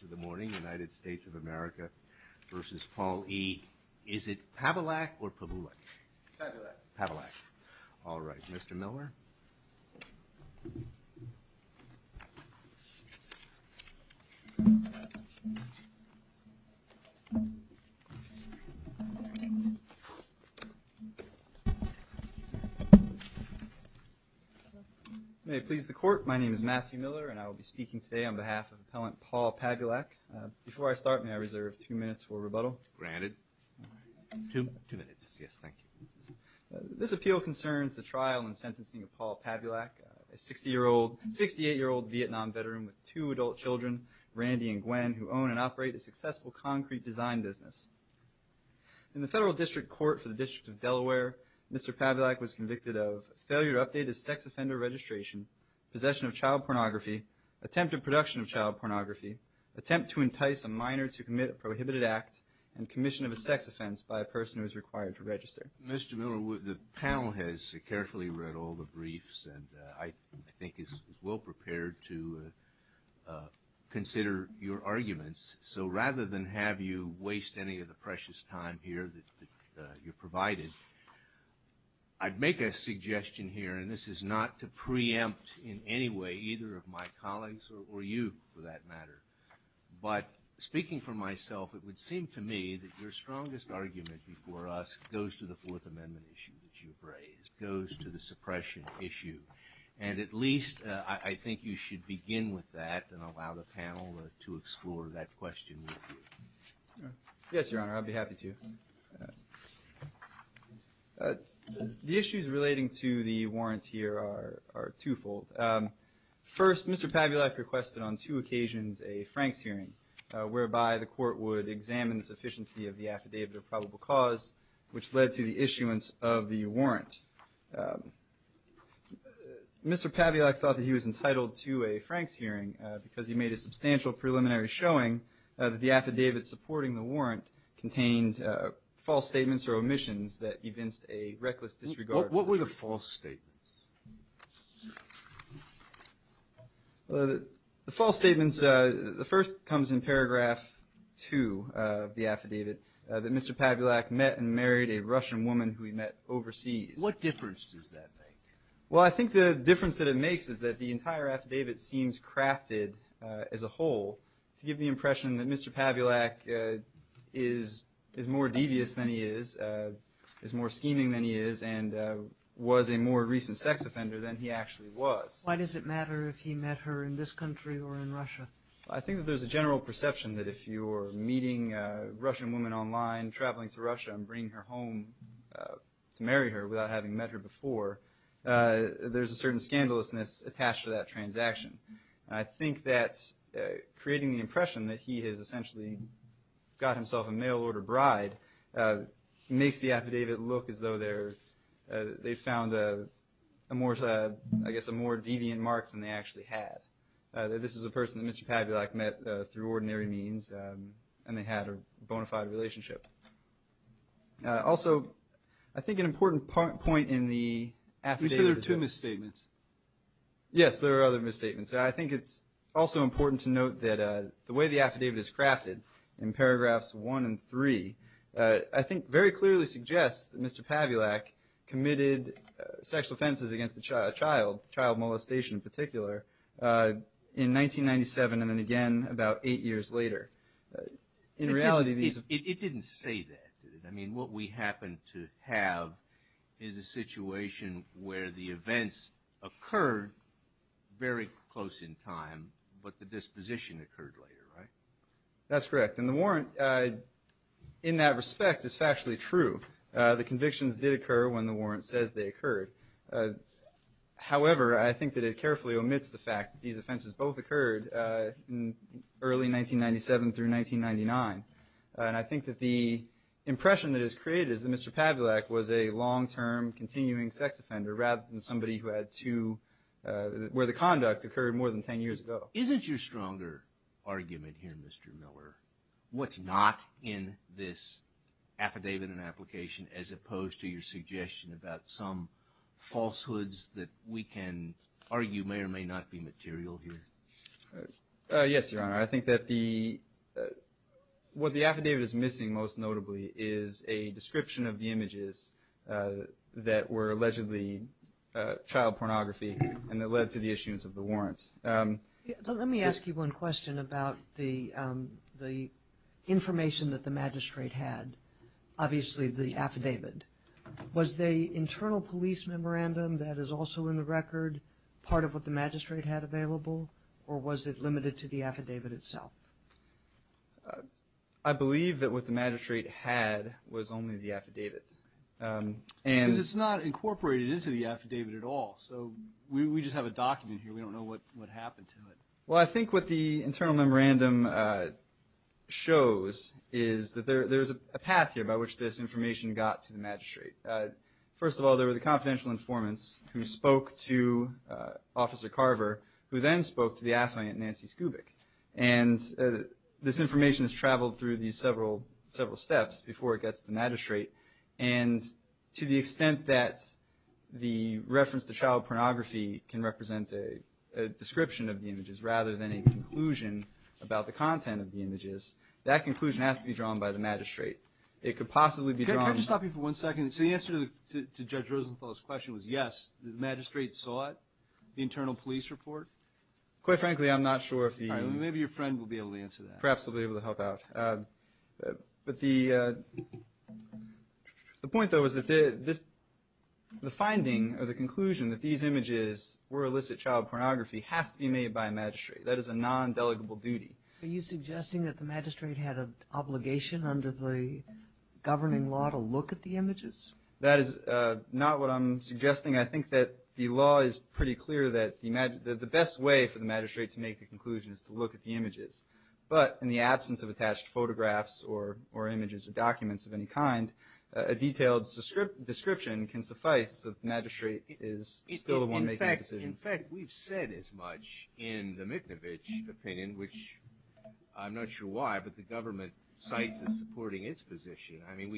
to the morning, United States of America versus Paul E. Is it Pavulak or Pavulak? Pavulak. Pavulak. All right. Mr. Miller? May it please the Court, my name is Matthew Miller and I will be speaking today on behalf of Appellant Paul Pavulak. Before I start, may I reserve two minutes for rebuttal? Granted. Two? Two minutes. Yes, thank you. This appeal concerns the trial and sentencing of Paul Pavulak, a 60-year-old, 68-year-old Vietnam veteran with two adult children, Randy and Gwen, who own and operate a successful concrete design business. In the Federal District Court for the District of Delaware, Mr. Pavulak was convicted of failure to update his sex offender registration, possession of child pornography, attempted production of child pornography, attempt to entice a minor to commit a prohibited act, and commission of a sex offense by a person who is required to register. Mr. Miller, the panel has carefully read all the briefs and I think is well prepared to consider your arguments. So rather than have you waste any of the precious time here that you provided, I'd make a suggestion here, and this is not to preempt in any way either of my colleagues or you for that matter, but speaking for myself, it would seem to me that your strongest argument before us goes to the Fourth Amendment issue that you've raised, goes to the suppression issue. And at least I think you should begin with that and allow the panel to explore that question with you. Yes, Your Honor, I'd be happy to. The issues relating to the warrant here are twofold. First, Mr. Pavulak requested on two occasions a Franks hearing, whereby the court would examine the sufficiency of the affidavit of probable cause, which led to the issuance of the warrant. Mr. Pavulak thought that he was entitled to a Franks hearing because he made a substantial preliminary showing that the affidavit supporting the warrant contained false statements or omissions that evinced a reckless disregard. What were the false statements? The false statements, the first comes in paragraph two of the affidavit, that Mr. Pavulak met and married a Russian woman who he met overseas. What difference does that make? Well I think the difference that it makes is that the entire affidavit seems crafted as a whole to give the impression that Mr. Pavulak is more devious than he is, is more scheming than he is, and was a more recent sex offender than he actually was. Why does it matter if he met her in this country or in Russia? I think that there's a general perception that if you're meeting a Russian woman online, traveling to Russia and bringing her home to marry her without having met her before, there's a certain scandalousness attached to that transaction. I think that creating the impression that he has essentially got himself a mail-order bride makes the affidavit look as though they've found a more, I guess a more deviant mark than they actually have. This is a person that Mr. Pavulak met through ordinary means and they had a bona fide relationship. Also I think an important point in the affidavit is that... You said there were two misstatements. Yes, there were other misstatements. I think it's also important to note that the way the affidavit is crafted in paragraphs one and three, I think very clearly suggests that Mr. Pavulak committed sexual offenses against a child, child molestation in particular, in 1997 and then again about eight years later. In reality these... It didn't say that, did it? What we happen to have is a situation where the events occurred very close in time, but the disposition occurred later, right? That's correct, and the warrant in that respect is factually true. The convictions did occur when the warrant says they occurred, however I think that it carefully omits the fact that these offenses both occurred in early 1997 through 1999. I think that the impression that is created is that Mr. Pavulak was a long-term continuing sex offender rather than somebody who had two... Where the conduct occurred more than ten years ago. Isn't your stronger argument here, Mr. Miller, what's not in this affidavit and application as opposed to your suggestion about some falsehoods that we can argue may or may not be material here? Yes, Your Honor, I think that what the affidavit is missing most notably is a description of the images that were allegedly child pornography and that led to the issuance of the warrant. Let me ask you one question about the information that the magistrate had, obviously the affidavit. Was the internal police memorandum that is also in the record part of what the magistrate had available or was it limited to the affidavit itself? I believe that what the magistrate had was only the affidavit. It's not incorporated into the affidavit at all, so we just have a document here, we don't know what happened to it. Well I think what the internal memorandum shows is that there's a path here by which this information got to the magistrate. First of all, there were the confidential informants who spoke to Officer Carver who then spoke to the affluent Nancy Skubik and this information has traveled through these several steps before it gets to the magistrate and to the extent that the reference to child pornography can represent a description of the images rather than a conclusion about the content of the images, that conclusion has to be drawn by the magistrate. It could possibly be drawn... Can I just stop you for one second? So the answer to Judge Rosenthal's question was yes, the magistrate saw it, the internal police report? Quite frankly, I'm not sure if the... Maybe your friend will be able to answer that. Perhaps he'll be able to help out. But the point though is that the finding or the conclusion that these images were illicit child pornography has to be made by a magistrate, that is a non-delegable duty. Are you suggesting that the magistrate had an obligation under the governing law to look at the images? That is not what I'm suggesting. I think that the law is pretty clear that the best way for the magistrate to make the conclusion is to look at the images. But in the absence of attached photographs or images or documents of any kind, a detailed description can suffice if the magistrate is still the one making the decision. In fact, we've said as much in the Miknovich opinion, which I'm not sure why, but the government cites as supporting its position. I mean,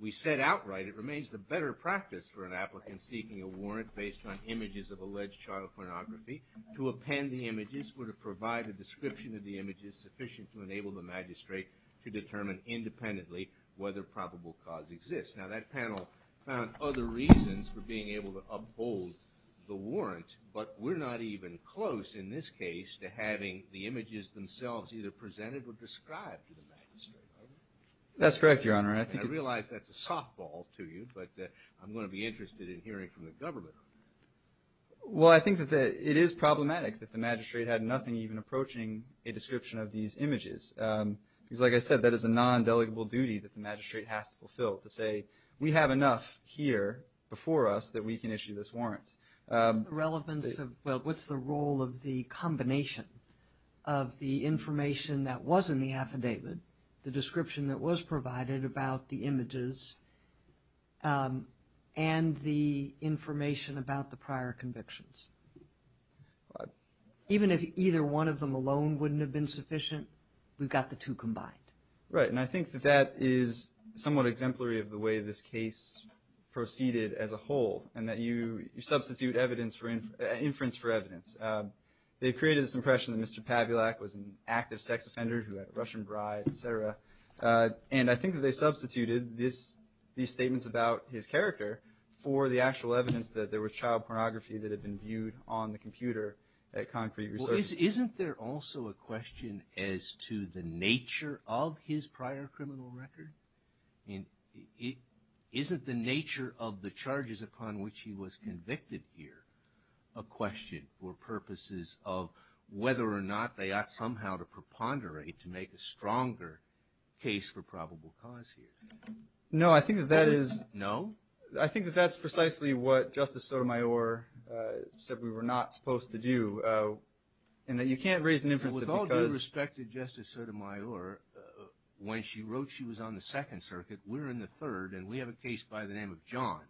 we said outright it remains the better practice for an applicant seeking a warrant based on images of alleged child pornography to append the images or to provide a description of the images sufficient to enable the magistrate to determine independently whether probable cause exists. Now, that panel found other reasons for being able to uphold the warrant, but we're not even close in this case to having the images themselves either presented or described to the magistrate. Are we? That's correct, Your Honor. I think it's... I realize that's a softball to you, but I'm going to be interested in hearing from the government on that. Well, I think that it is problematic that the magistrate had nothing even approaching a description of these images. Because like I said, that is a non-delegable duty that to look at the documents and I'm going to look at the documents and I'm going to look enough here before us that we can issue this warrant. What's the relevance of, well, what's the role of the combination of the information that was in the affidavit, the description that was provided about the images and the information about the prior convictions? Even if either one of them alone wouldn't have been sufficient, we've got the two combined. Right. And I think that that is somewhat exemplary of the way this case proceeded as a whole, and that you substitute inference for evidence. They created this impression that Mr. Pavulak was an active sex offender who had a Russian bride, et cetera. And I think that they substituted these statements about his character for the actual evidence that there was child pornography that had been viewed on the computer at concrete Well, isn't there also a question as to the nature of his prior criminal record? And isn't the nature of the charges upon which he was convicted here a question for purposes of whether or not they ought somehow to preponderate to make a stronger case for probable cause here? No, I think that that is... No? I think that that's precisely what Justice Sotomayor said we were not supposed to do, and that you can't raise an inference that because... With all due respect to Justice Sotomayor, when she wrote she was on the Second Circuit, we're in the Third, and we have a case by the name of John.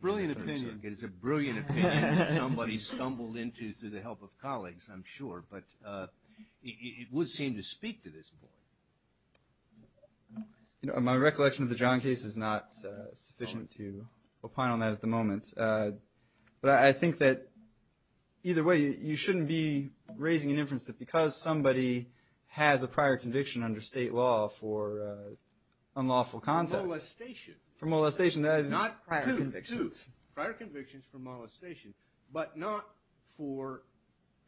Brilliant opinion. It is a brilliant opinion that somebody stumbled into through the help of colleagues, I'm sure, but it would seem to speak to this point. You know, my recollection of the John case is not sufficient to opine on that at the moment. But I think that either way, you shouldn't be raising an inference that because somebody has a prior conviction under state law for unlawful conduct... Molestation. For molestation. Not prior convictions. Prior convictions for molestation, but not for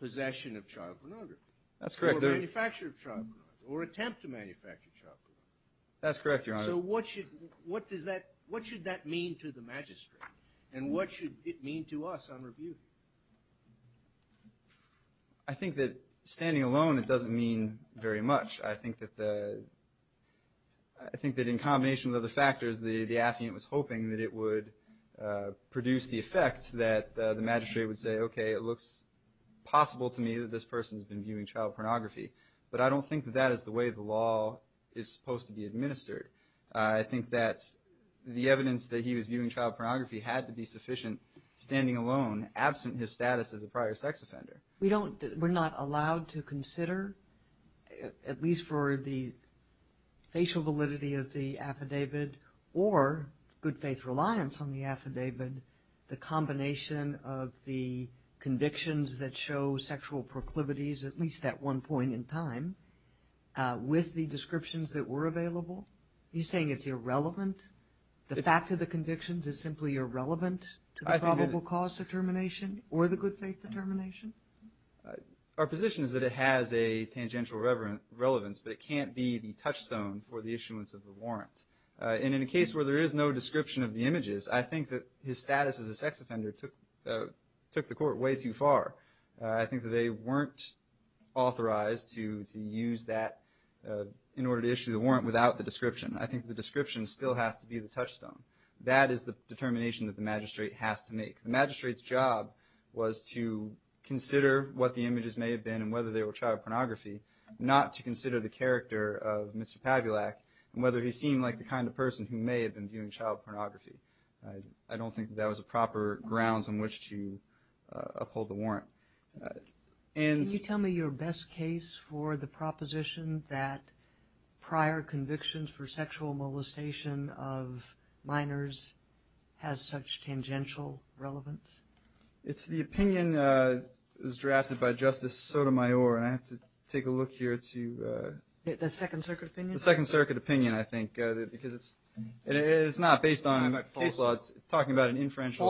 possession of child pornography. That's correct. Or manufacture of child pornography, or attempt to manufacture child pornography. That's correct, Your Honor. What should that mean to the magistrate? And what should it mean to us on review? I think that standing alone, it doesn't mean very much. I think that in combination with other factors, the affiant was hoping that it would produce the effect that the magistrate would say, okay, it looks possible to me that this person's been viewing child pornography. But I don't think that that is the way the law is supposed to be handled. I think that the evidence that he was viewing child pornography had to be sufficient standing alone, absent his status as a prior sex offender. We don't, we're not allowed to consider, at least for the facial validity of the affidavit, or good faith reliance on the affidavit, the combination of the convictions that show sexual proclivities, at least at one point in time, with the descriptions that were available? Are you saying it's irrelevant? The fact of the convictions is simply irrelevant to the probable cause determination, or the good faith determination? Our position is that it has a tangential relevance, but it can't be the touchstone for the issuance of the warrant. And in a case where there is no description of the images, I think that his status as a sex offender took the court way too far. I think that they weren't authorized to use that in order to issue the warrant without the description. I think the description still has to be the touchstone. That is the determination that the magistrate has to make. The magistrate's job was to consider what the images may have been and whether they were child pornography, not to consider the character of Mr. Pavulak and whether he seemed like the kind of person who may have been viewing child pornography. I don't think that was a proper grounds on which to uphold the warrant. Can you tell me your best case for the proposition that prior convictions for sexual molestation of minors has such tangential relevance? It's the opinion that was drafted by Justice Sotomayor, and I have to take a look here to... The Second Circuit opinion? The Second Circuit opinion, I think, because it's not based on case law. It's talking about an inferential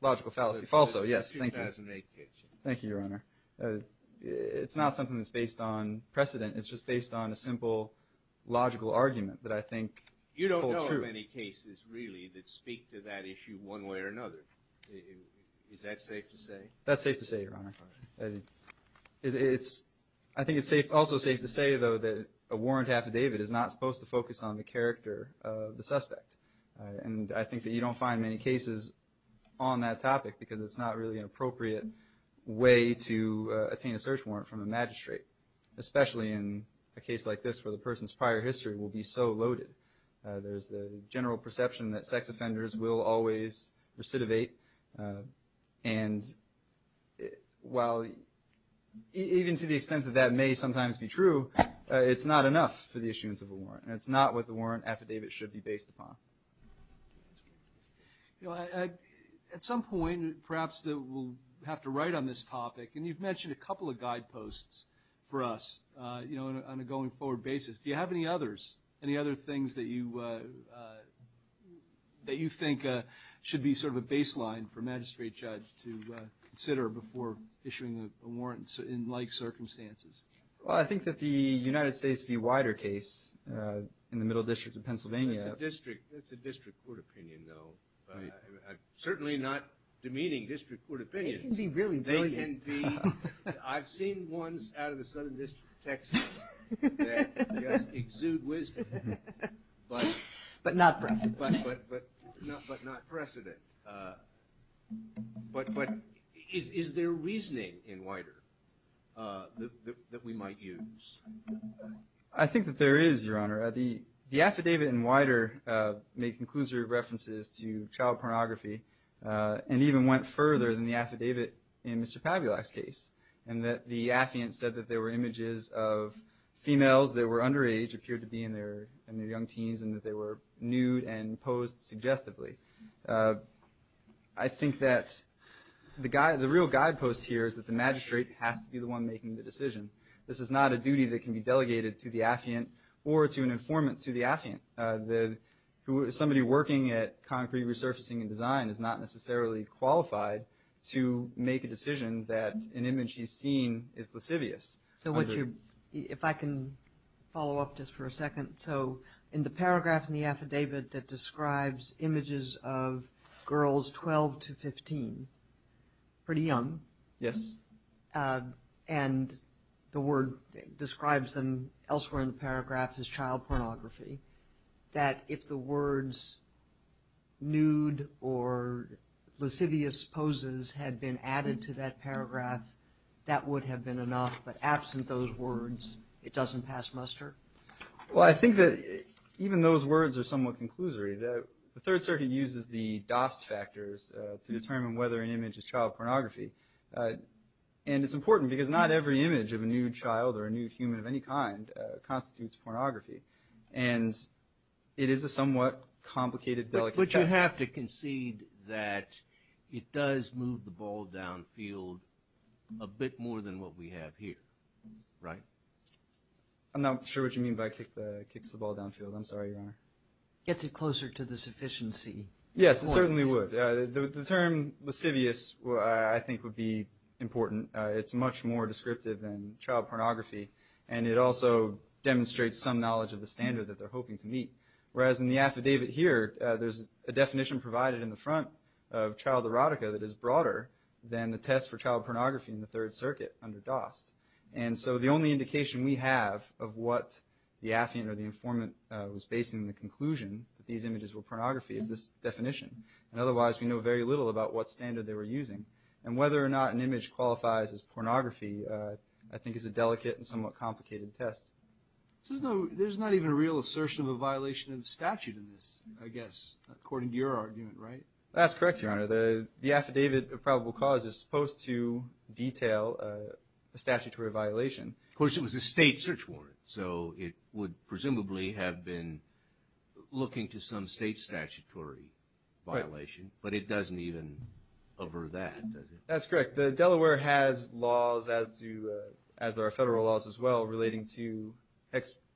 logical fallacy. Falso. Falso, yes. Thank you, Your Honor. It's not something that's based on precedent. It's just based on a simple logical argument that I think holds true. You don't know of any cases, really, that speak to that issue one way or another. Is that safe to say? That's safe to say, Your Honor. I think it's also safe to say, though, that a warrant affidavit is not supposed to focus on the character of the suspect. And I think that you don't find many cases on that topic because it's not really an appropriate way to attain a search warrant from a magistrate, especially in a case like this where the person's prior history will be so loaded. There's the general perception that sex offenders will always recidivate. And while even to the extent that that may sometimes be true, it's not enough for the issuance of a warrant affidavit should be based upon. At some point, perhaps we'll have to write on this topic, and you've mentioned a couple of guideposts for us on a going forward basis. Do you have any others, any other things that you think should be sort of a baseline for a magistrate judge to consider before issuing a warrant in like circumstances? Well, I think that the United States v. Wider case in the Middle District of Pennsylvania. It's a district court opinion, though. Certainly not demeaning district court opinions. It can be really brilliant. They can be. I've seen ones out of the Southern District of Texas that just exude wisdom. But not precedent. But not precedent. But is there reasoning in Wider that we might use? I think that there is, Your Honor. The affidavit in Wider made conclusive references to child pornography and even went further than the affidavit in Mr. Pavulak's case in that the affiant said that there were images of females that were underage, appeared to be in their young teens, and that they were nude and posed suggestively. I think that the real guidepost here is that the magistrate has to be the one making the decision. This is not a duty that can be delegated to the affiant or to an informant to the affiant. Somebody working at concrete resurfacing and design is not necessarily qualified to make a decision that an image he's seen is lascivious. If I can follow up just for a second. So in the paragraph in the affidavit that describes images of girls 12 to 15, pretty young, and the word describes them elsewhere in the paragraph is child pornography, that if the words nude or lascivious poses had been added to that paragraph, that would have been enough. But absent those words, it doesn't pass muster? Well, I think that even those words are somewhat conclusory. The Third Circuit uses the Dost factors to determine whether an image is child pornography. And it's important because not every image of a nude child or a nude human of any kind constitutes pornography. And it is a somewhat complicated delicacy. But you have to concede that it does move the ball downfield a bit more than what we have here, right? I'm not sure what you mean by kicks the ball downfield. I'm sorry, Your Honor. Gets it closer to the sufficiency. Yes, it certainly would. The term lascivious, I think, would be important. It's much more descriptive than child pornography. And it also demonstrates some knowledge of the standard that they're hoping to meet. Whereas in the affidavit here, there's a definition provided in the front of child erotica that is broader than the test for child pornography in the Third Circuit under Dost. And so the only indication we have of what the affiant or the informant was basing the conclusion that these images were pornography is this definition. And otherwise, we know very little about what standard they were using. And whether or not an image qualifies as pornography, I think is a delicate and somewhat complicated test. So there's not even a real assertion of a violation of the statute in this, I guess, according to your argument, right? That's correct, Your Honor. The affidavit of probable cause is supposed to detail a statutory violation. Of course, it was a state search warrant. So it would presumably have been looking to some state statutory violation. But it doesn't even cover that, does it? That's correct. Delaware has laws, as do our federal laws as well, relating to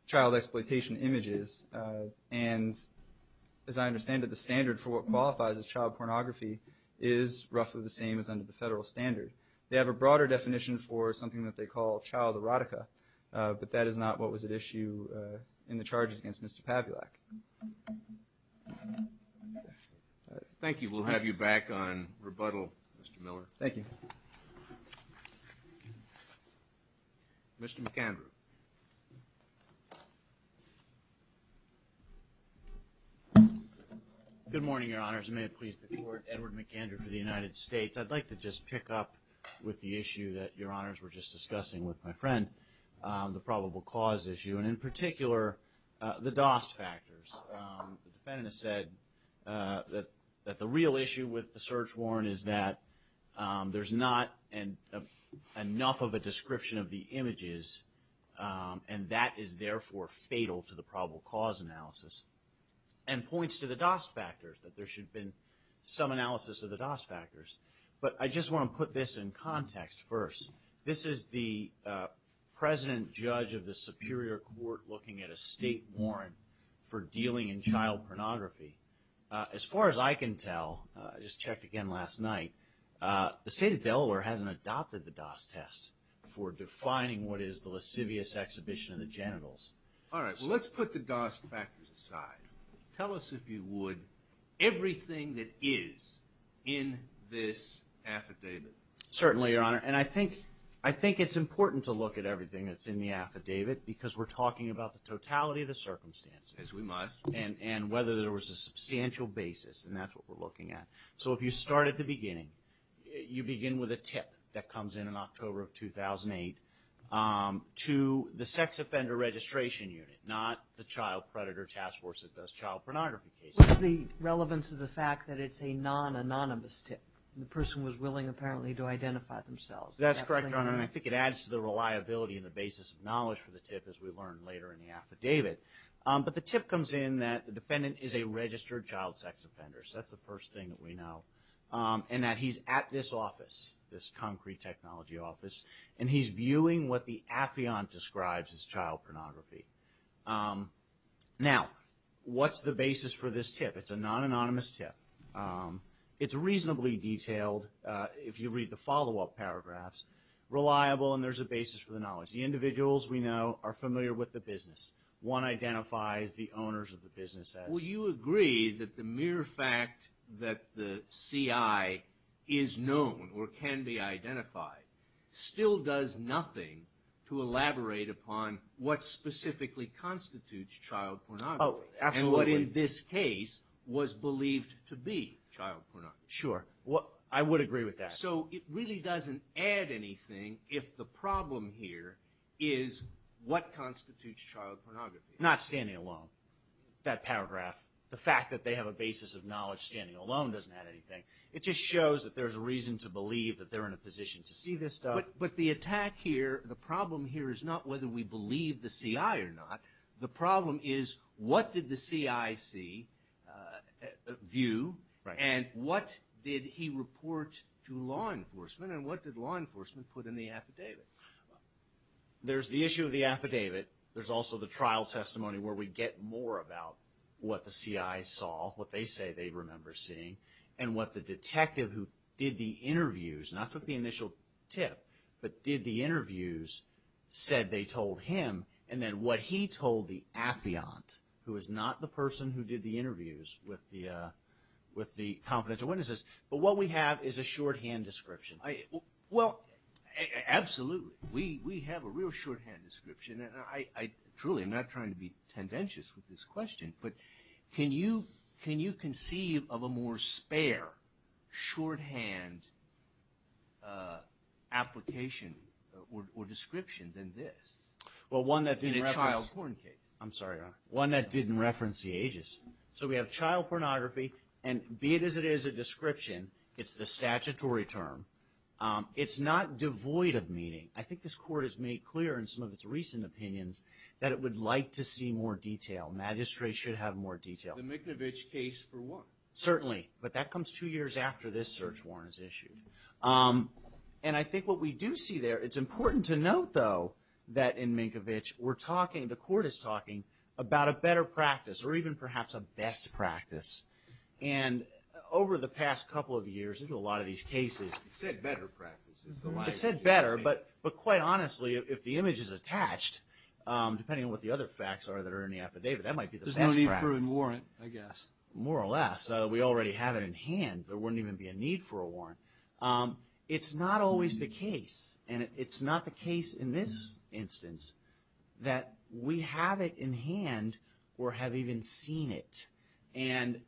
child exploitation images. And as I understand it, the standard for what qualifies as child pornography is roughly the same as under the federal standard. They have a broader definition for something that they call child erotica. But that is not what was at issue in the charges against Mr. Pavulak. Thank you. We'll have you back on rebuttal, Mr. Miller. Thank you. Mr. McAndrew. Good morning, Your Honors. May it please the Court, Edward McAndrew for the United States. I'd like to just pick up with the issue that Your Honors were just discussing with my friend, the probable cause issue, and in particular, the DOST factors. The defendant has said that the real issue with the search warrant is that there's not enough of a description of the images, and that is therefore fatal to the probable cause analysis. And points to the DOST factors, that there should have been some analysis of the DOST factors. But I just want to put this in context first. This is the president judge of the Superior Court looking at a state warrant for dealing in child pornography. As far as I can tell, I just checked again last night, the state of Delaware hasn't adopted the DOST test for defining what is the lascivious exhibition of the genitals. All right. Well, let's put the DOST factors aside. Tell us if you would, everything that is in this affidavit. Certainly, Your Honor. And I think it's important to look at everything that's in the affidavit, because we're talking about the totality of the circumstances. As we must. And whether there was a substantial basis, and that's what we're looking at. So if you start at the beginning, you begin with a tip that comes in in October of 2008 to the Sex Offender Registration Unit, not the Child Predator Task Force that does child pornography cases. What's the relevance of the fact that it's a non-anonymous tip? The person was willing, apparently, to identify themselves. That's correct, Your Honor. And I think it adds to the reliability and the basis of knowledge for the tip, as we learn later in the affidavit. But the tip comes in that the defendant is a registered child sex offender. So that's the first thing that we know. And that he's at this office, this concrete technology office, and he's viewing what the affiant describes as child pornography. Now, what's the basis for this tip? It's a non-anonymous tip. It's reasonably detailed, if you read the follow-up paragraphs, reliable, and there's a basis for the knowledge. The individuals we know are familiar with the business. One identifies the owners of the business as. Would you agree that the mere fact that the CI is known, or can be identified, still does nothing to elaborate upon what specifically constitutes child pornography? Oh, absolutely. And what, in this case, was believed to be child pornography? Sure. I would agree with that. So it really doesn't add anything if the problem here is what constitutes child pornography? Not standing alone. That paragraph, the fact that they have a basis of knowledge standing alone, doesn't add anything. It just shows that there's a reason to believe that they're in a position to see this stuff. But the attack here, the problem here, is not whether we believe the CI or not. The problem is what did the CI see, view, and what did he report to law enforcement, and what did law enforcement put in the affidavit? There's the issue of the affidavit. There's also the trial testimony where we get more about what the CI saw, what they say they remember seeing, and what the detective who did the interviews, not took the initial tip, but did the interviews, said they told him, and then what he told the affiant, who is not the person who did the interviews with the confidential witnesses, but what we have is a shorthand description. Well, absolutely. We have a real shorthand description, and I truly am not trying to be tendentious with this question, but can you conceive of a more spare shorthand application or description than this? Well, one that didn't reference... In a child porn case. I'm sorry, Your Honor. One that didn't reference the ages. So we have child pornography, and be it as it is a description, it's the statutory term. It's not devoid of meaning. I think this Court has made clear in some of its recent opinions that it would like to see more detail. Magistrates should have more detail. The Miknovich case for one. Certainly, but that comes two years after this search warrant is issued. And I think what we do see there, it's important to note, though, that in Miknovich, we're talking, the Court is talking about a better practice, or even perhaps a best practice. And over the past couple of years, a lot of these cases... You said better practice is the line. I said better, but quite honestly, if the image is attached, depending on what the other facts are that are in the affidavit, that might be the best practice. There's no need for a warrant, I guess. More or less. We already have it in hand. There wouldn't even be a need for a warrant. It's not always the case. And it's not the case in this instance that we have it in hand or have even seen it. And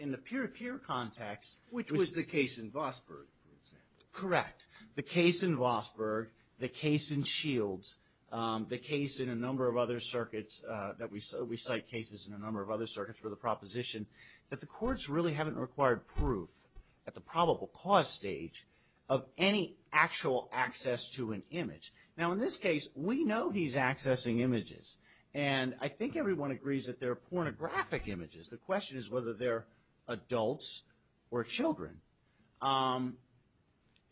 in the peer-to-peer context... Which was the case in Vosburgh, for example. Correct. The case in Vosburgh, the case in Shields, the case in a number of other circuits that we cite cases in a number of other circuits for the proposition, that the courts really haven't required proof, at the probable cause stage, of any actual access to an image. Now in this case, we know he's accessing images. And I think everyone agrees that they're pornographic images. The question is whether they're adults or children.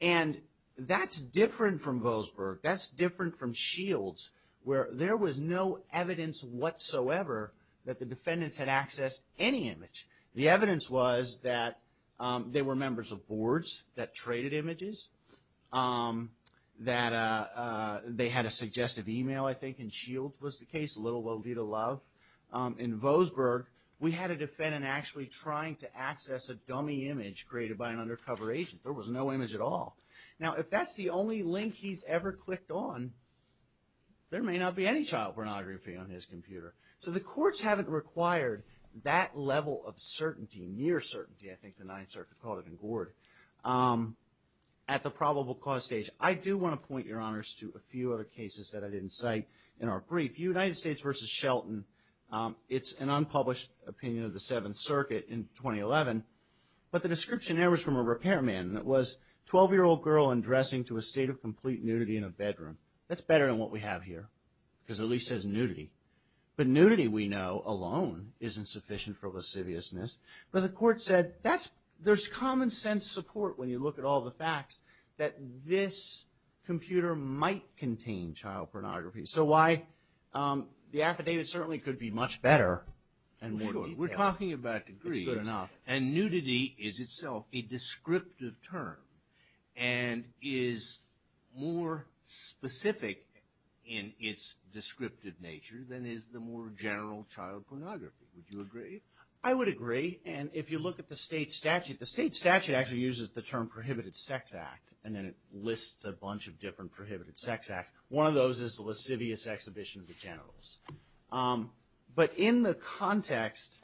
And that's different from Vosburgh. That's different from Shields, where there was no evidence whatsoever that the defendants had accessed any image. The evidence was that they were members of boards that traded images. That they had a suggestive email, I think, in Shields was the case. Little will be the love. In Vosburgh, we had a defendant actually trying to access a dummy image created by an undercover agent. There was no image at all. Now if that's the only link he's ever clicked on, there may not be any child pornography on his computer. So the courts haven't required that level of certainty, near certainty, I think the Ninth Circuit called it in Gord, at the probable cause stage. I do want to point, Your Honors, to a few other cases that I didn't cite in our brief. United States v. Shelton. It's an unpublished opinion of the Seventh Circuit in 2011. But the description there was from a repairman. It was a 12-year-old girl undressing to a state of complete nudity in a bedroom. That's better than what we have here, because it at least says nudity. But nudity, we know, alone isn't sufficient for lasciviousness. But the court said, there's common sense support when you look at all the facts that this computer might contain child pornography. So why, the affidavit certainly could be much better and more detailed. We're talking about degrees, and nudity is itself a descriptive term. And is more specific in its descriptive nature than is the more general child pornography. Would you agree? I would agree. And if you look at the state statute, the state statute actually uses the term prohibited sex act. And then it lists a bunch of different prohibited sex acts. One of those is the lascivious exhibition of the generals. But in the context,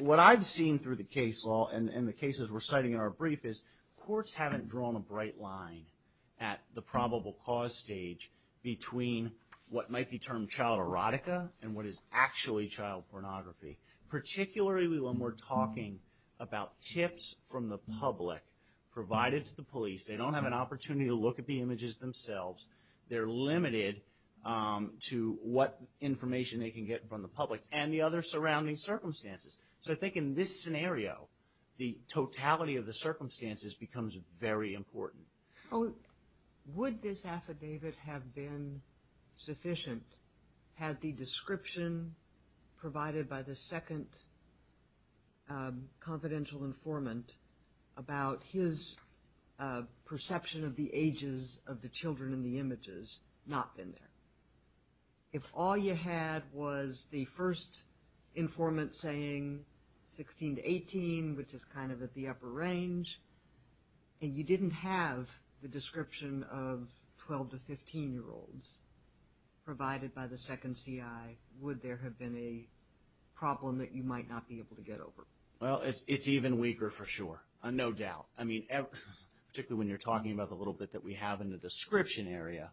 what I've seen through the case law, and the cases we're citing in our brief, is courts haven't drawn a bright line at the probable cause stage between what might be termed child erotica and what is actually child pornography. Particularly when we're talking about tips from the public provided to the police. They don't have an opportunity to look at the images themselves. They're limited to what information they can get from the public and the other surrounding circumstances. So I think in this scenario, the totality of the circumstances becomes very important. Would this affidavit have been sufficient had the description provided by the second confidential informant about his perception of the ages of the children in the images not been there? If all you had was the first informant saying 16 to 18, which is kind of at the upper range, and you didn't have the description of 12 to 15 year olds provided by the second CI, would there have been a problem that you might not be able to get over? Well, it's even weaker for sure. No doubt. I mean, particularly when you're talking about the little bit that we have in the description area,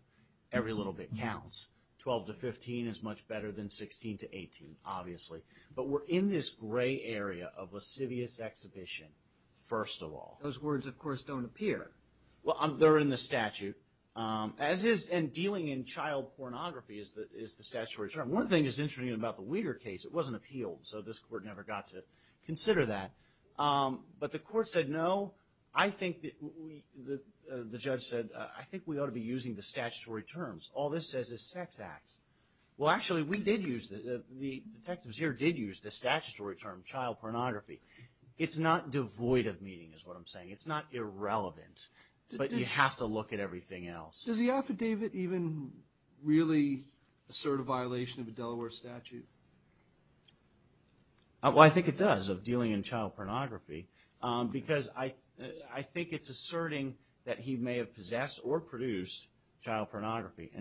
every little bit counts. 12 to 15 is much better than 16 to 18, obviously. But we're in this gray area of lascivious exhibition, first of all. Those words, of course, don't appear. Well, they're in the statute. And dealing in child pornography is the statutory term. One thing that's interesting about the Weider case, it wasn't appealed, so this court never got to consider that. But the court said no. I think that the judge said, I think we ought to be using the statutory terms. All this says is sex act. Well, actually, we did use that. The detectives here did use the statutory term, child pornography. It's not devoid of meaning, is what I'm saying. It's not irrelevant. But you have to look at everything else. Does the affidavit even really assert a violation of a Delaware statute? Well, I think it does, of dealing in child pornography. Because I think it's asserting that he may have possessed or produced child pornography.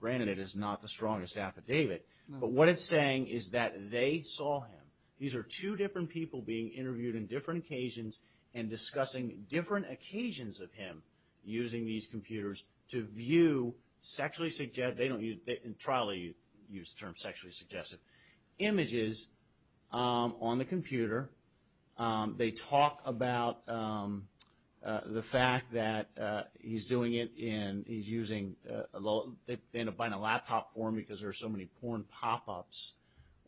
Granted, it is not the strongest affidavit. But what it's saying is that they saw him. These are two different people being interviewed on different occasions and discussing different occasions of him using these computers to view sexually suggestive, they don't use, in trial they use the term sexually suggestive, images on the computer they talk about the fact that he's doing it in, he's using, they end up buying a laptop for him because there are so many porn pop-ups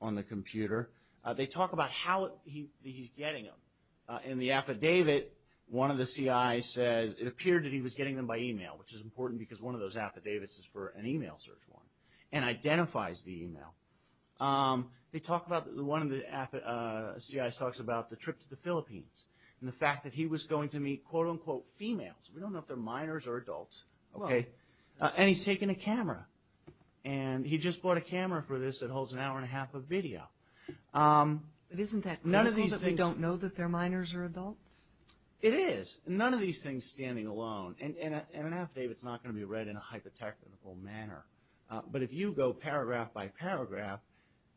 on the computer. They talk about how he's getting them. In the affidavit, one of the CIs says it appeared that he was getting them by email, which is important because one of those affidavits is for an email search one, and identifies the email. Um, they talk about, one of the CIs talks about the trip to the Philippines, and the fact that he was going to meet quote-unquote females, we don't know if they're minors or adults, okay, and he's taking a camera. And he just bought a camera for this that holds an hour and a half of video. But isn't that critical that they don't know that they're minors or adults? It is. None of these things standing alone. And an affidavit's not going to be read in a hypothetical manner. But if you go paragraph by paragraph,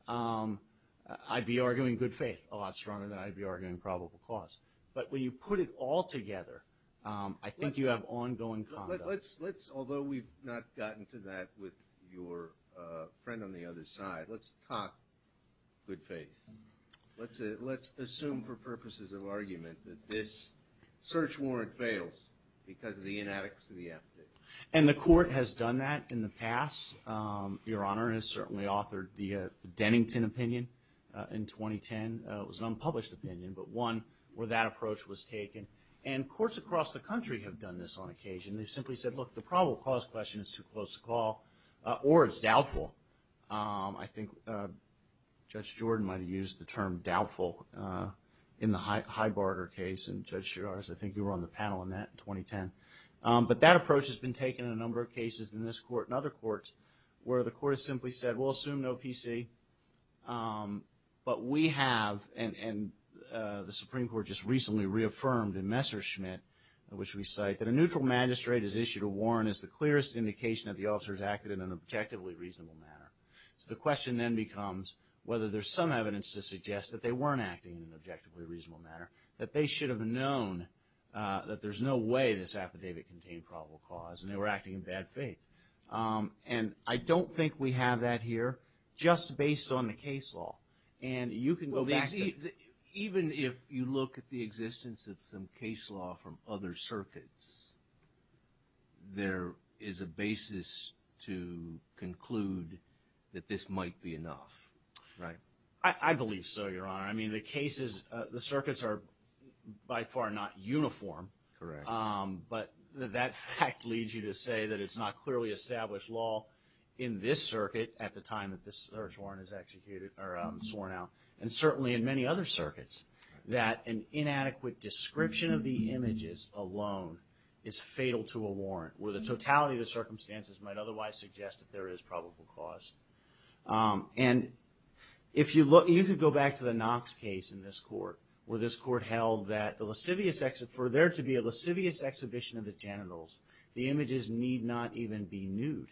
I'd be arguing good faith a lot stronger than I'd be arguing probable cause. But when you put it all together, I think you have ongoing conduct. Let's, although we've not gotten to that with your friend on the other side, let's talk good faith. Let's assume for purposes of argument that this search warrant fails because of the inadequacy of the affidavit. And the court has done that in the past, Your Honor, and has certainly authored the Dennington opinion in 2010. It was an unpublished opinion, but one where that approach was taken. And courts across the country have done this on occasion. They've simply said, look, the probable cause question is too close to call, or it's doubtful. I think Judge Jordan might have used the term doubtful in the Heiberger case, and Judge Shiraz, I think you were on the panel on that in 2010. But that approach has been taken in a number of cases in this court and other courts, where the court has simply said, we'll assume no PC. But we have, and the Supreme Court just recently reaffirmed in Messerschmidt, in which we cite, that a neutral magistrate has issued a warrant as the clearest indication that the officers acted in an objectively reasonable manner. So the question then becomes whether there's some evidence to suggest that they weren't acting in an objectively reasonable manner, that they should have known that there's no way this affidavit contained probable cause, and they were acting in bad faith. And I don't think we have that here, just based on the case law. And you can go back to- Well, even if you look at the existence of some case law from other circuits, there is a basis to conclude that this might be enough, right? I believe so, Your Honor. The cases, the circuits are by far not uniform. But that fact leads you to say that it's not clearly established law in this circuit at the time that this search warrant is executed, or sworn out, and certainly in many other circuits, that an inadequate description of the images alone is fatal to a warrant, where the totality of the circumstances might otherwise suggest that there is probable cause. And if you look, you could go back to the Knox case in this court, where this court held that the lascivious, for there to be a lascivious exhibition of the genitals, the images need not even be nude.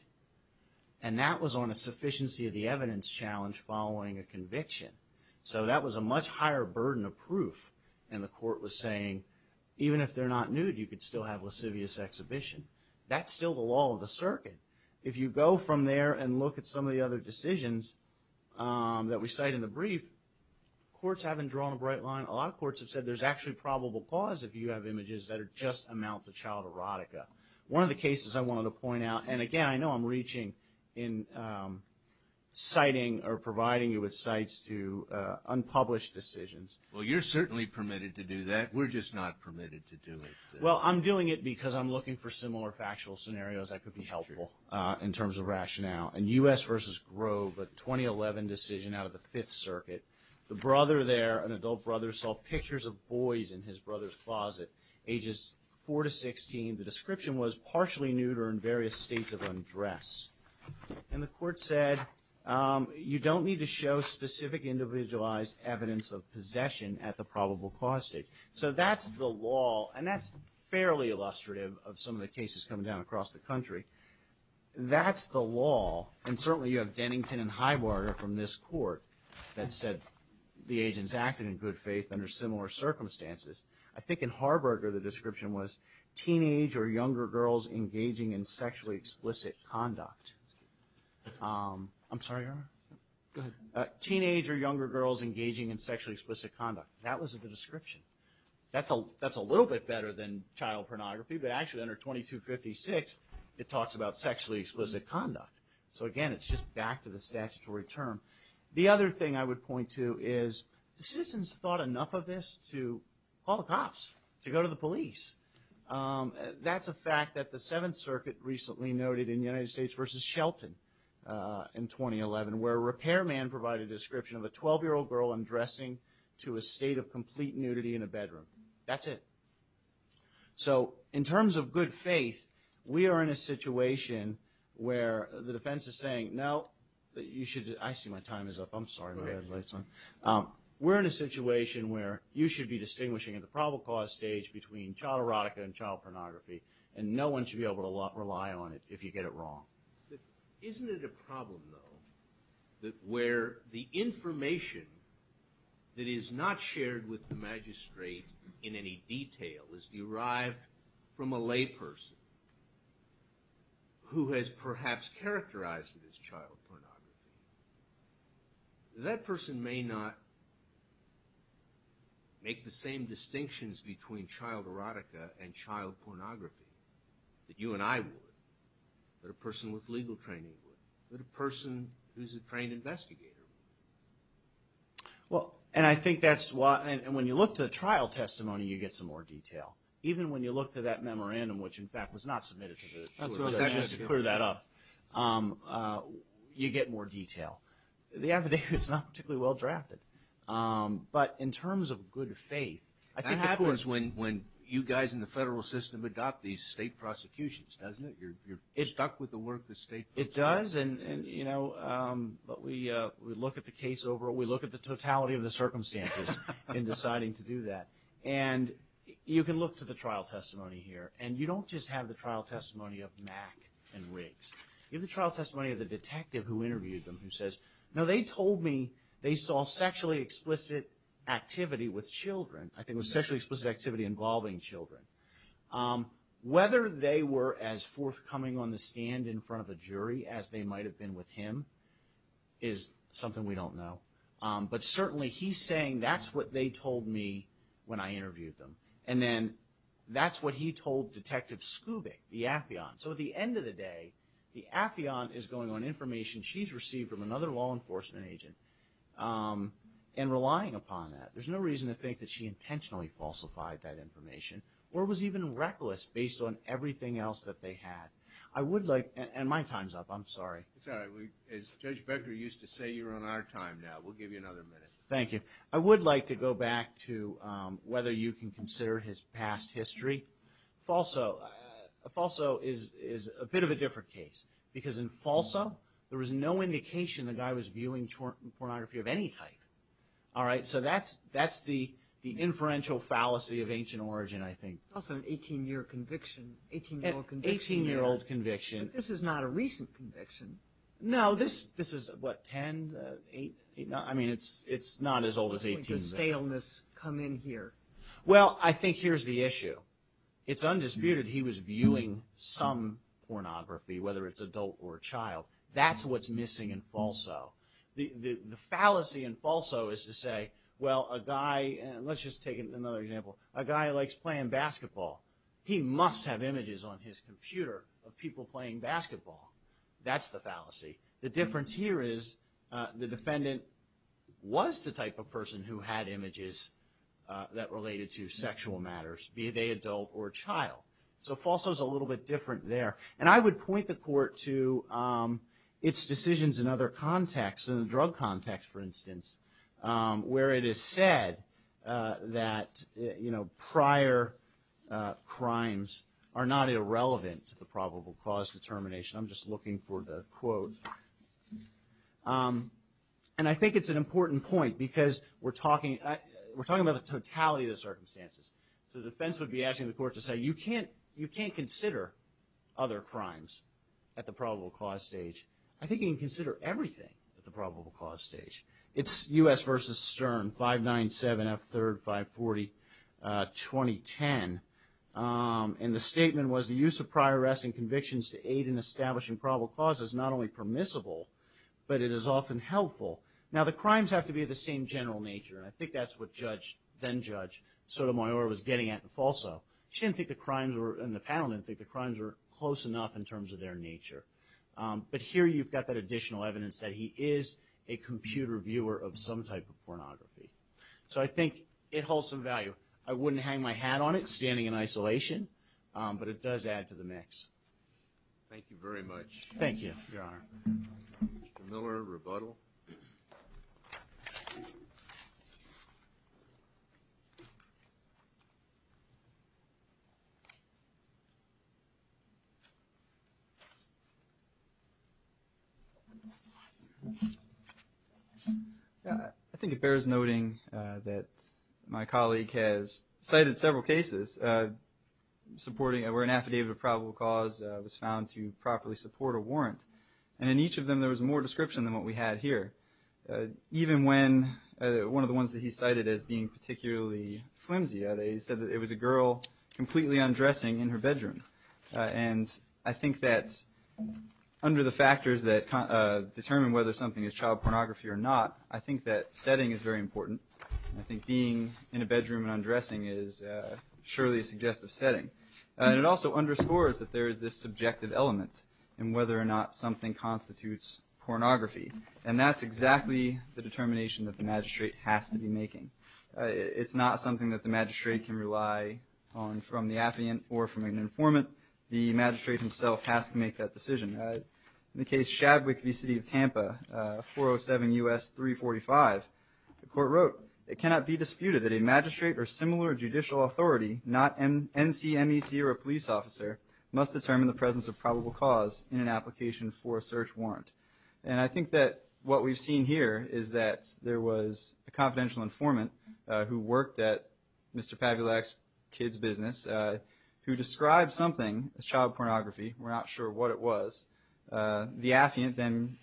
And that was on a sufficiency of the evidence challenge following a conviction. So that was a much higher burden of proof. And the court was saying, even if they're not nude, you could still have lascivious exhibition. That's still the law of the circuit. If you go from there and look at some of the other decisions that we cite in the brief, courts haven't drawn a bright line. A lot of courts have said there's actually probable cause if you have images that are just amount to child erotica. One of the cases I wanted to point out, and again, I know I'm reaching in citing or providing you with cites to unpublished decisions. Well, you're certainly permitted to do that. We're just not permitted to do it. Well, I'm doing it because I'm looking for similar factual scenarios that could be helpful in terms of rationale. And U.S. versus Grove, a 2011 decision out of the Fifth Circuit. The brother there, an adult brother, saw pictures of boys in his brother's closet, ages four to 16. The description was partially nude or in various states of undress. And the court said, you don't need to show specific individualized evidence of possession at the probable cause stage. So that's the law. And that's fairly illustrative of some of the cases coming down across the country. That's the law. And certainly, you have Dennington and Highwater from this court that said the agents acted in good faith under similar circumstances. I think in Harberger, the description was teenage or younger girls engaging in sexually explicit conduct. I'm sorry, go ahead. Teenage or younger girls engaging in sexually explicit conduct. That was the description. That's a little bit better than child pornography. But actually, under 2256, it talks about sexually explicit conduct. So again, it's just back to the statutory term. The other thing I would point to is, the citizens thought enough of this to call the cops, to go to the police. That's a fact that the Seventh Circuit recently noted in United States versus Shelton in 2011, where a repairman provided a description of a 12-year-old girl undressing to a state of complete nudity in a bedroom. That's it. So in terms of good faith, we are in a situation where the defense is saying, no, you should, I see my time is up. I'm sorry. We're in a situation where you should be distinguishing at the probable cause stage between child erotica and child pornography. And no one should be able to rely on it if you get it wrong. Isn't it a problem, though, that where the information that is not shared with the magistrate in any detail is derived from a layperson who has perhaps characterized it as child pornography, that person may not make the same distinctions between child erotica and child pornography that you and I would, that a person with legal training would, that a person who's a trained investigator would? Well, and I think that's why, and when you look at the trial testimony, you get some more detail. Even when you look to that memorandum, which, in fact, was not submitted to the court. That's right. Just to clear that up. You get more detail. The affidavit's not particularly well-drafted. But in terms of good faith, I think it happens... That happens when you guys in the federal system adopt these state prosecutions, doesn't it? You're stuck with the work the state does. It does, and, you know, but we look at the case overall. We look at the totality of the circumstances in deciding to do that. And you can look to the trial testimony here. And you don't just have the trial testimony of Mack and Riggs. You have the trial testimony of the detective who interviewed them who says, no, they told me they saw sexually explicit activity with children. I think it was sexually explicit activity involving children. Whether they were as forthcoming on the stand in front of a jury as they might have been with him is something we don't know. But certainly, he's saying, that's what they told me when I interviewed them. And then that's what he told Detective Skubick, the affion. So at the end of the day, the affion is going on information she's received from another law enforcement agent and relying upon that. Or was even reckless based on everything else that they had. I would like, and my time's up. I'm sorry. It's all right. As Judge Becker used to say, you're on our time now. We'll give you another minute. Thank you. I would like to go back to whether you can consider his past history. Falso is a bit of a different case. Because in falso, there was no indication the guy was viewing pornography of any type. All right. So that's the inferential fallacy of ancient origin, I think. Also an 18-year conviction. 18-year-old conviction. 18-year-old conviction. But this is not a recent conviction. No, this is, what, 10, 8? I mean, it's not as old as 18. Staleness come in here. Well, I think here's the issue. It's undisputed he was viewing some pornography, whether it's adult or child. That's what's missing in falso. The fallacy in falso is to say, well, a guy, and let's just take another example. A guy likes playing basketball. He must have images on his computer of people playing basketball. That's the fallacy. The difference here is the defendant was the type of person who had images that related to sexual matters, be they adult or child. So falso is a little bit different there. And I would point the court to its decisions in other contexts, in the drug context, for instance, where it is said that prior crimes are not irrelevant to the probable cause determination. I'm just looking for the quote. And I think it's an important point, because we're talking about the totality of the circumstances. So the defense would be asking the court to say, you can't consider other crimes at the probable cause stage. I think you can consider everything at the probable cause stage. It's U.S. versus Stern, 597, F3, 540, 2010. And the statement was, the use of prior arrest and convictions to aid in establishing probable cause is not only permissible, but it is often helpful. Now, the crimes have to be of the same general nature. And I think that's what then-judge Sotomayor was getting at in falso. She didn't think the crimes were, and the panel didn't think the crimes were close enough in terms of their nature. But here you've got that additional evidence that he is a computer viewer of some type of pornography. So I think it holds some value. I wouldn't hang my hat on it, standing in isolation. But it does add to the mix. Thank you very much. Thank you, Your Honor. Mr. Miller, rebuttal. I think it bears noting that my colleague has cited several cases supporting where an affidavit of probable cause was found to properly support a warrant. And in each of them, there was more description than what we had here. Even when one of the ones that he cited as being particularly flimsy, they said that it was a girl completely undressing in her bedroom. And I think that under the factors that determine whether something is child pornography or not, I think that setting is very important. I think being in a bedroom and undressing is surely a suggestive setting. And it also underscores that there is this subjective element in whether or not something constitutes pornography. And that's exactly the determination that the magistrate has to be making. It's not something that the magistrate can rely on from the affidavit or from an informant. The magistrate himself has to make that decision. In the case Shadwick v. City of Tampa, 407 U.S. 345, the court wrote, it cannot be disputed that a magistrate or similar judicial authority, not an NCMEC or a police officer, must determine the presence of probable cause in an application for a search warrant. And I think that what we've seen here is that there was a confidential informant who worked at Mr. Pavulak's kid's business who described something as child pornography. We're not sure what it was. The affiant then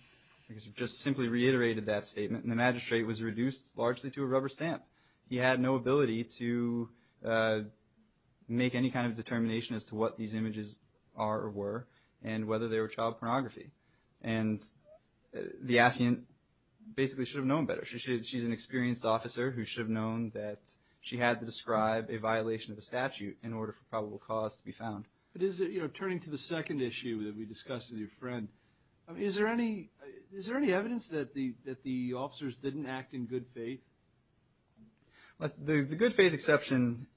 just simply reiterated that statement, and the magistrate was reduced largely to a rubber stamp. He had no ability to make any kind of determination as to what these images are or were and whether they were child pornography. And the affiant basically should have known better. She's an experienced officer who should have known that she had to describe a violation of the statute in order for probable cause to be found. But is it, you know, turning to the second issue that we discussed with your friend, is there any, is there any evidence that the, that the officers didn't act in good faith? Well, the good faith exception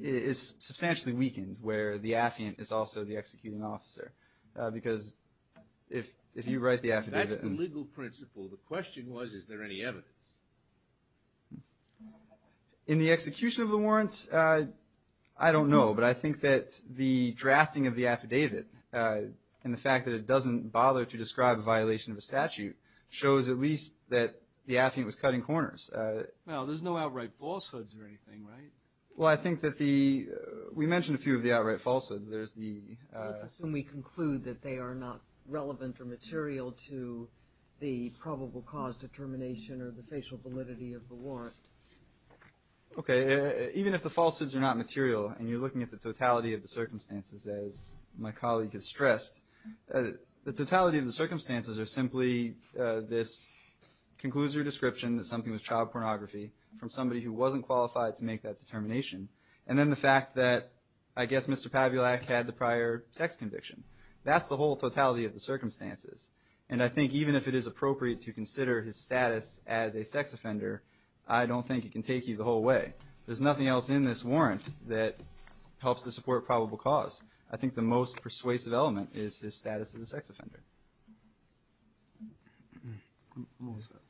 is substantially weakened, where the affiant is also the executing officer. Because if, if you write the affidavit. That's the legal principle. The question was, is there any evidence? In the execution of the warrants, I don't know. But I think that the drafting of the affidavit, and the fact that it doesn't bother to describe a violation of a statute, shows at least that the affiant was cutting corners. Now, there's no outright falsehoods or anything, right? Well, I think that the, we mentioned a few of the outright falsehoods. Let's assume we conclude that they are not relevant or material to the probable cause determination or the facial validity of the warrant. Okay, even if the falsehoods are not material, and you're looking at the totality of the circumstances, as my colleague has stressed, the totality of the circumstances are simply this conclusory description that something was child pornography from somebody who wasn't qualified to make that determination. And then the fact that, I guess, Mr. Pavulak had the prior sex conviction. That's the whole totality of the circumstances. And I think even if it is appropriate to consider his status as a sex offender, I don't think it can take you the whole way. There's nothing else in this warrant that helps to support probable cause. I think the most persuasive element is his status as a sex offender.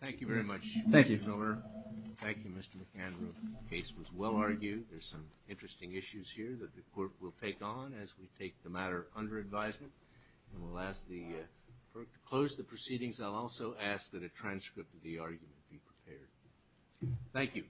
Thank you very much. Thank you. Thank you, Mr. McHenry. Case was well argued. There's some interesting issues here that the court will take on as we take the matter under advisement. And we'll ask the, to close the proceedings, I'll also ask that a transcript of the argument be prepared. Thank you.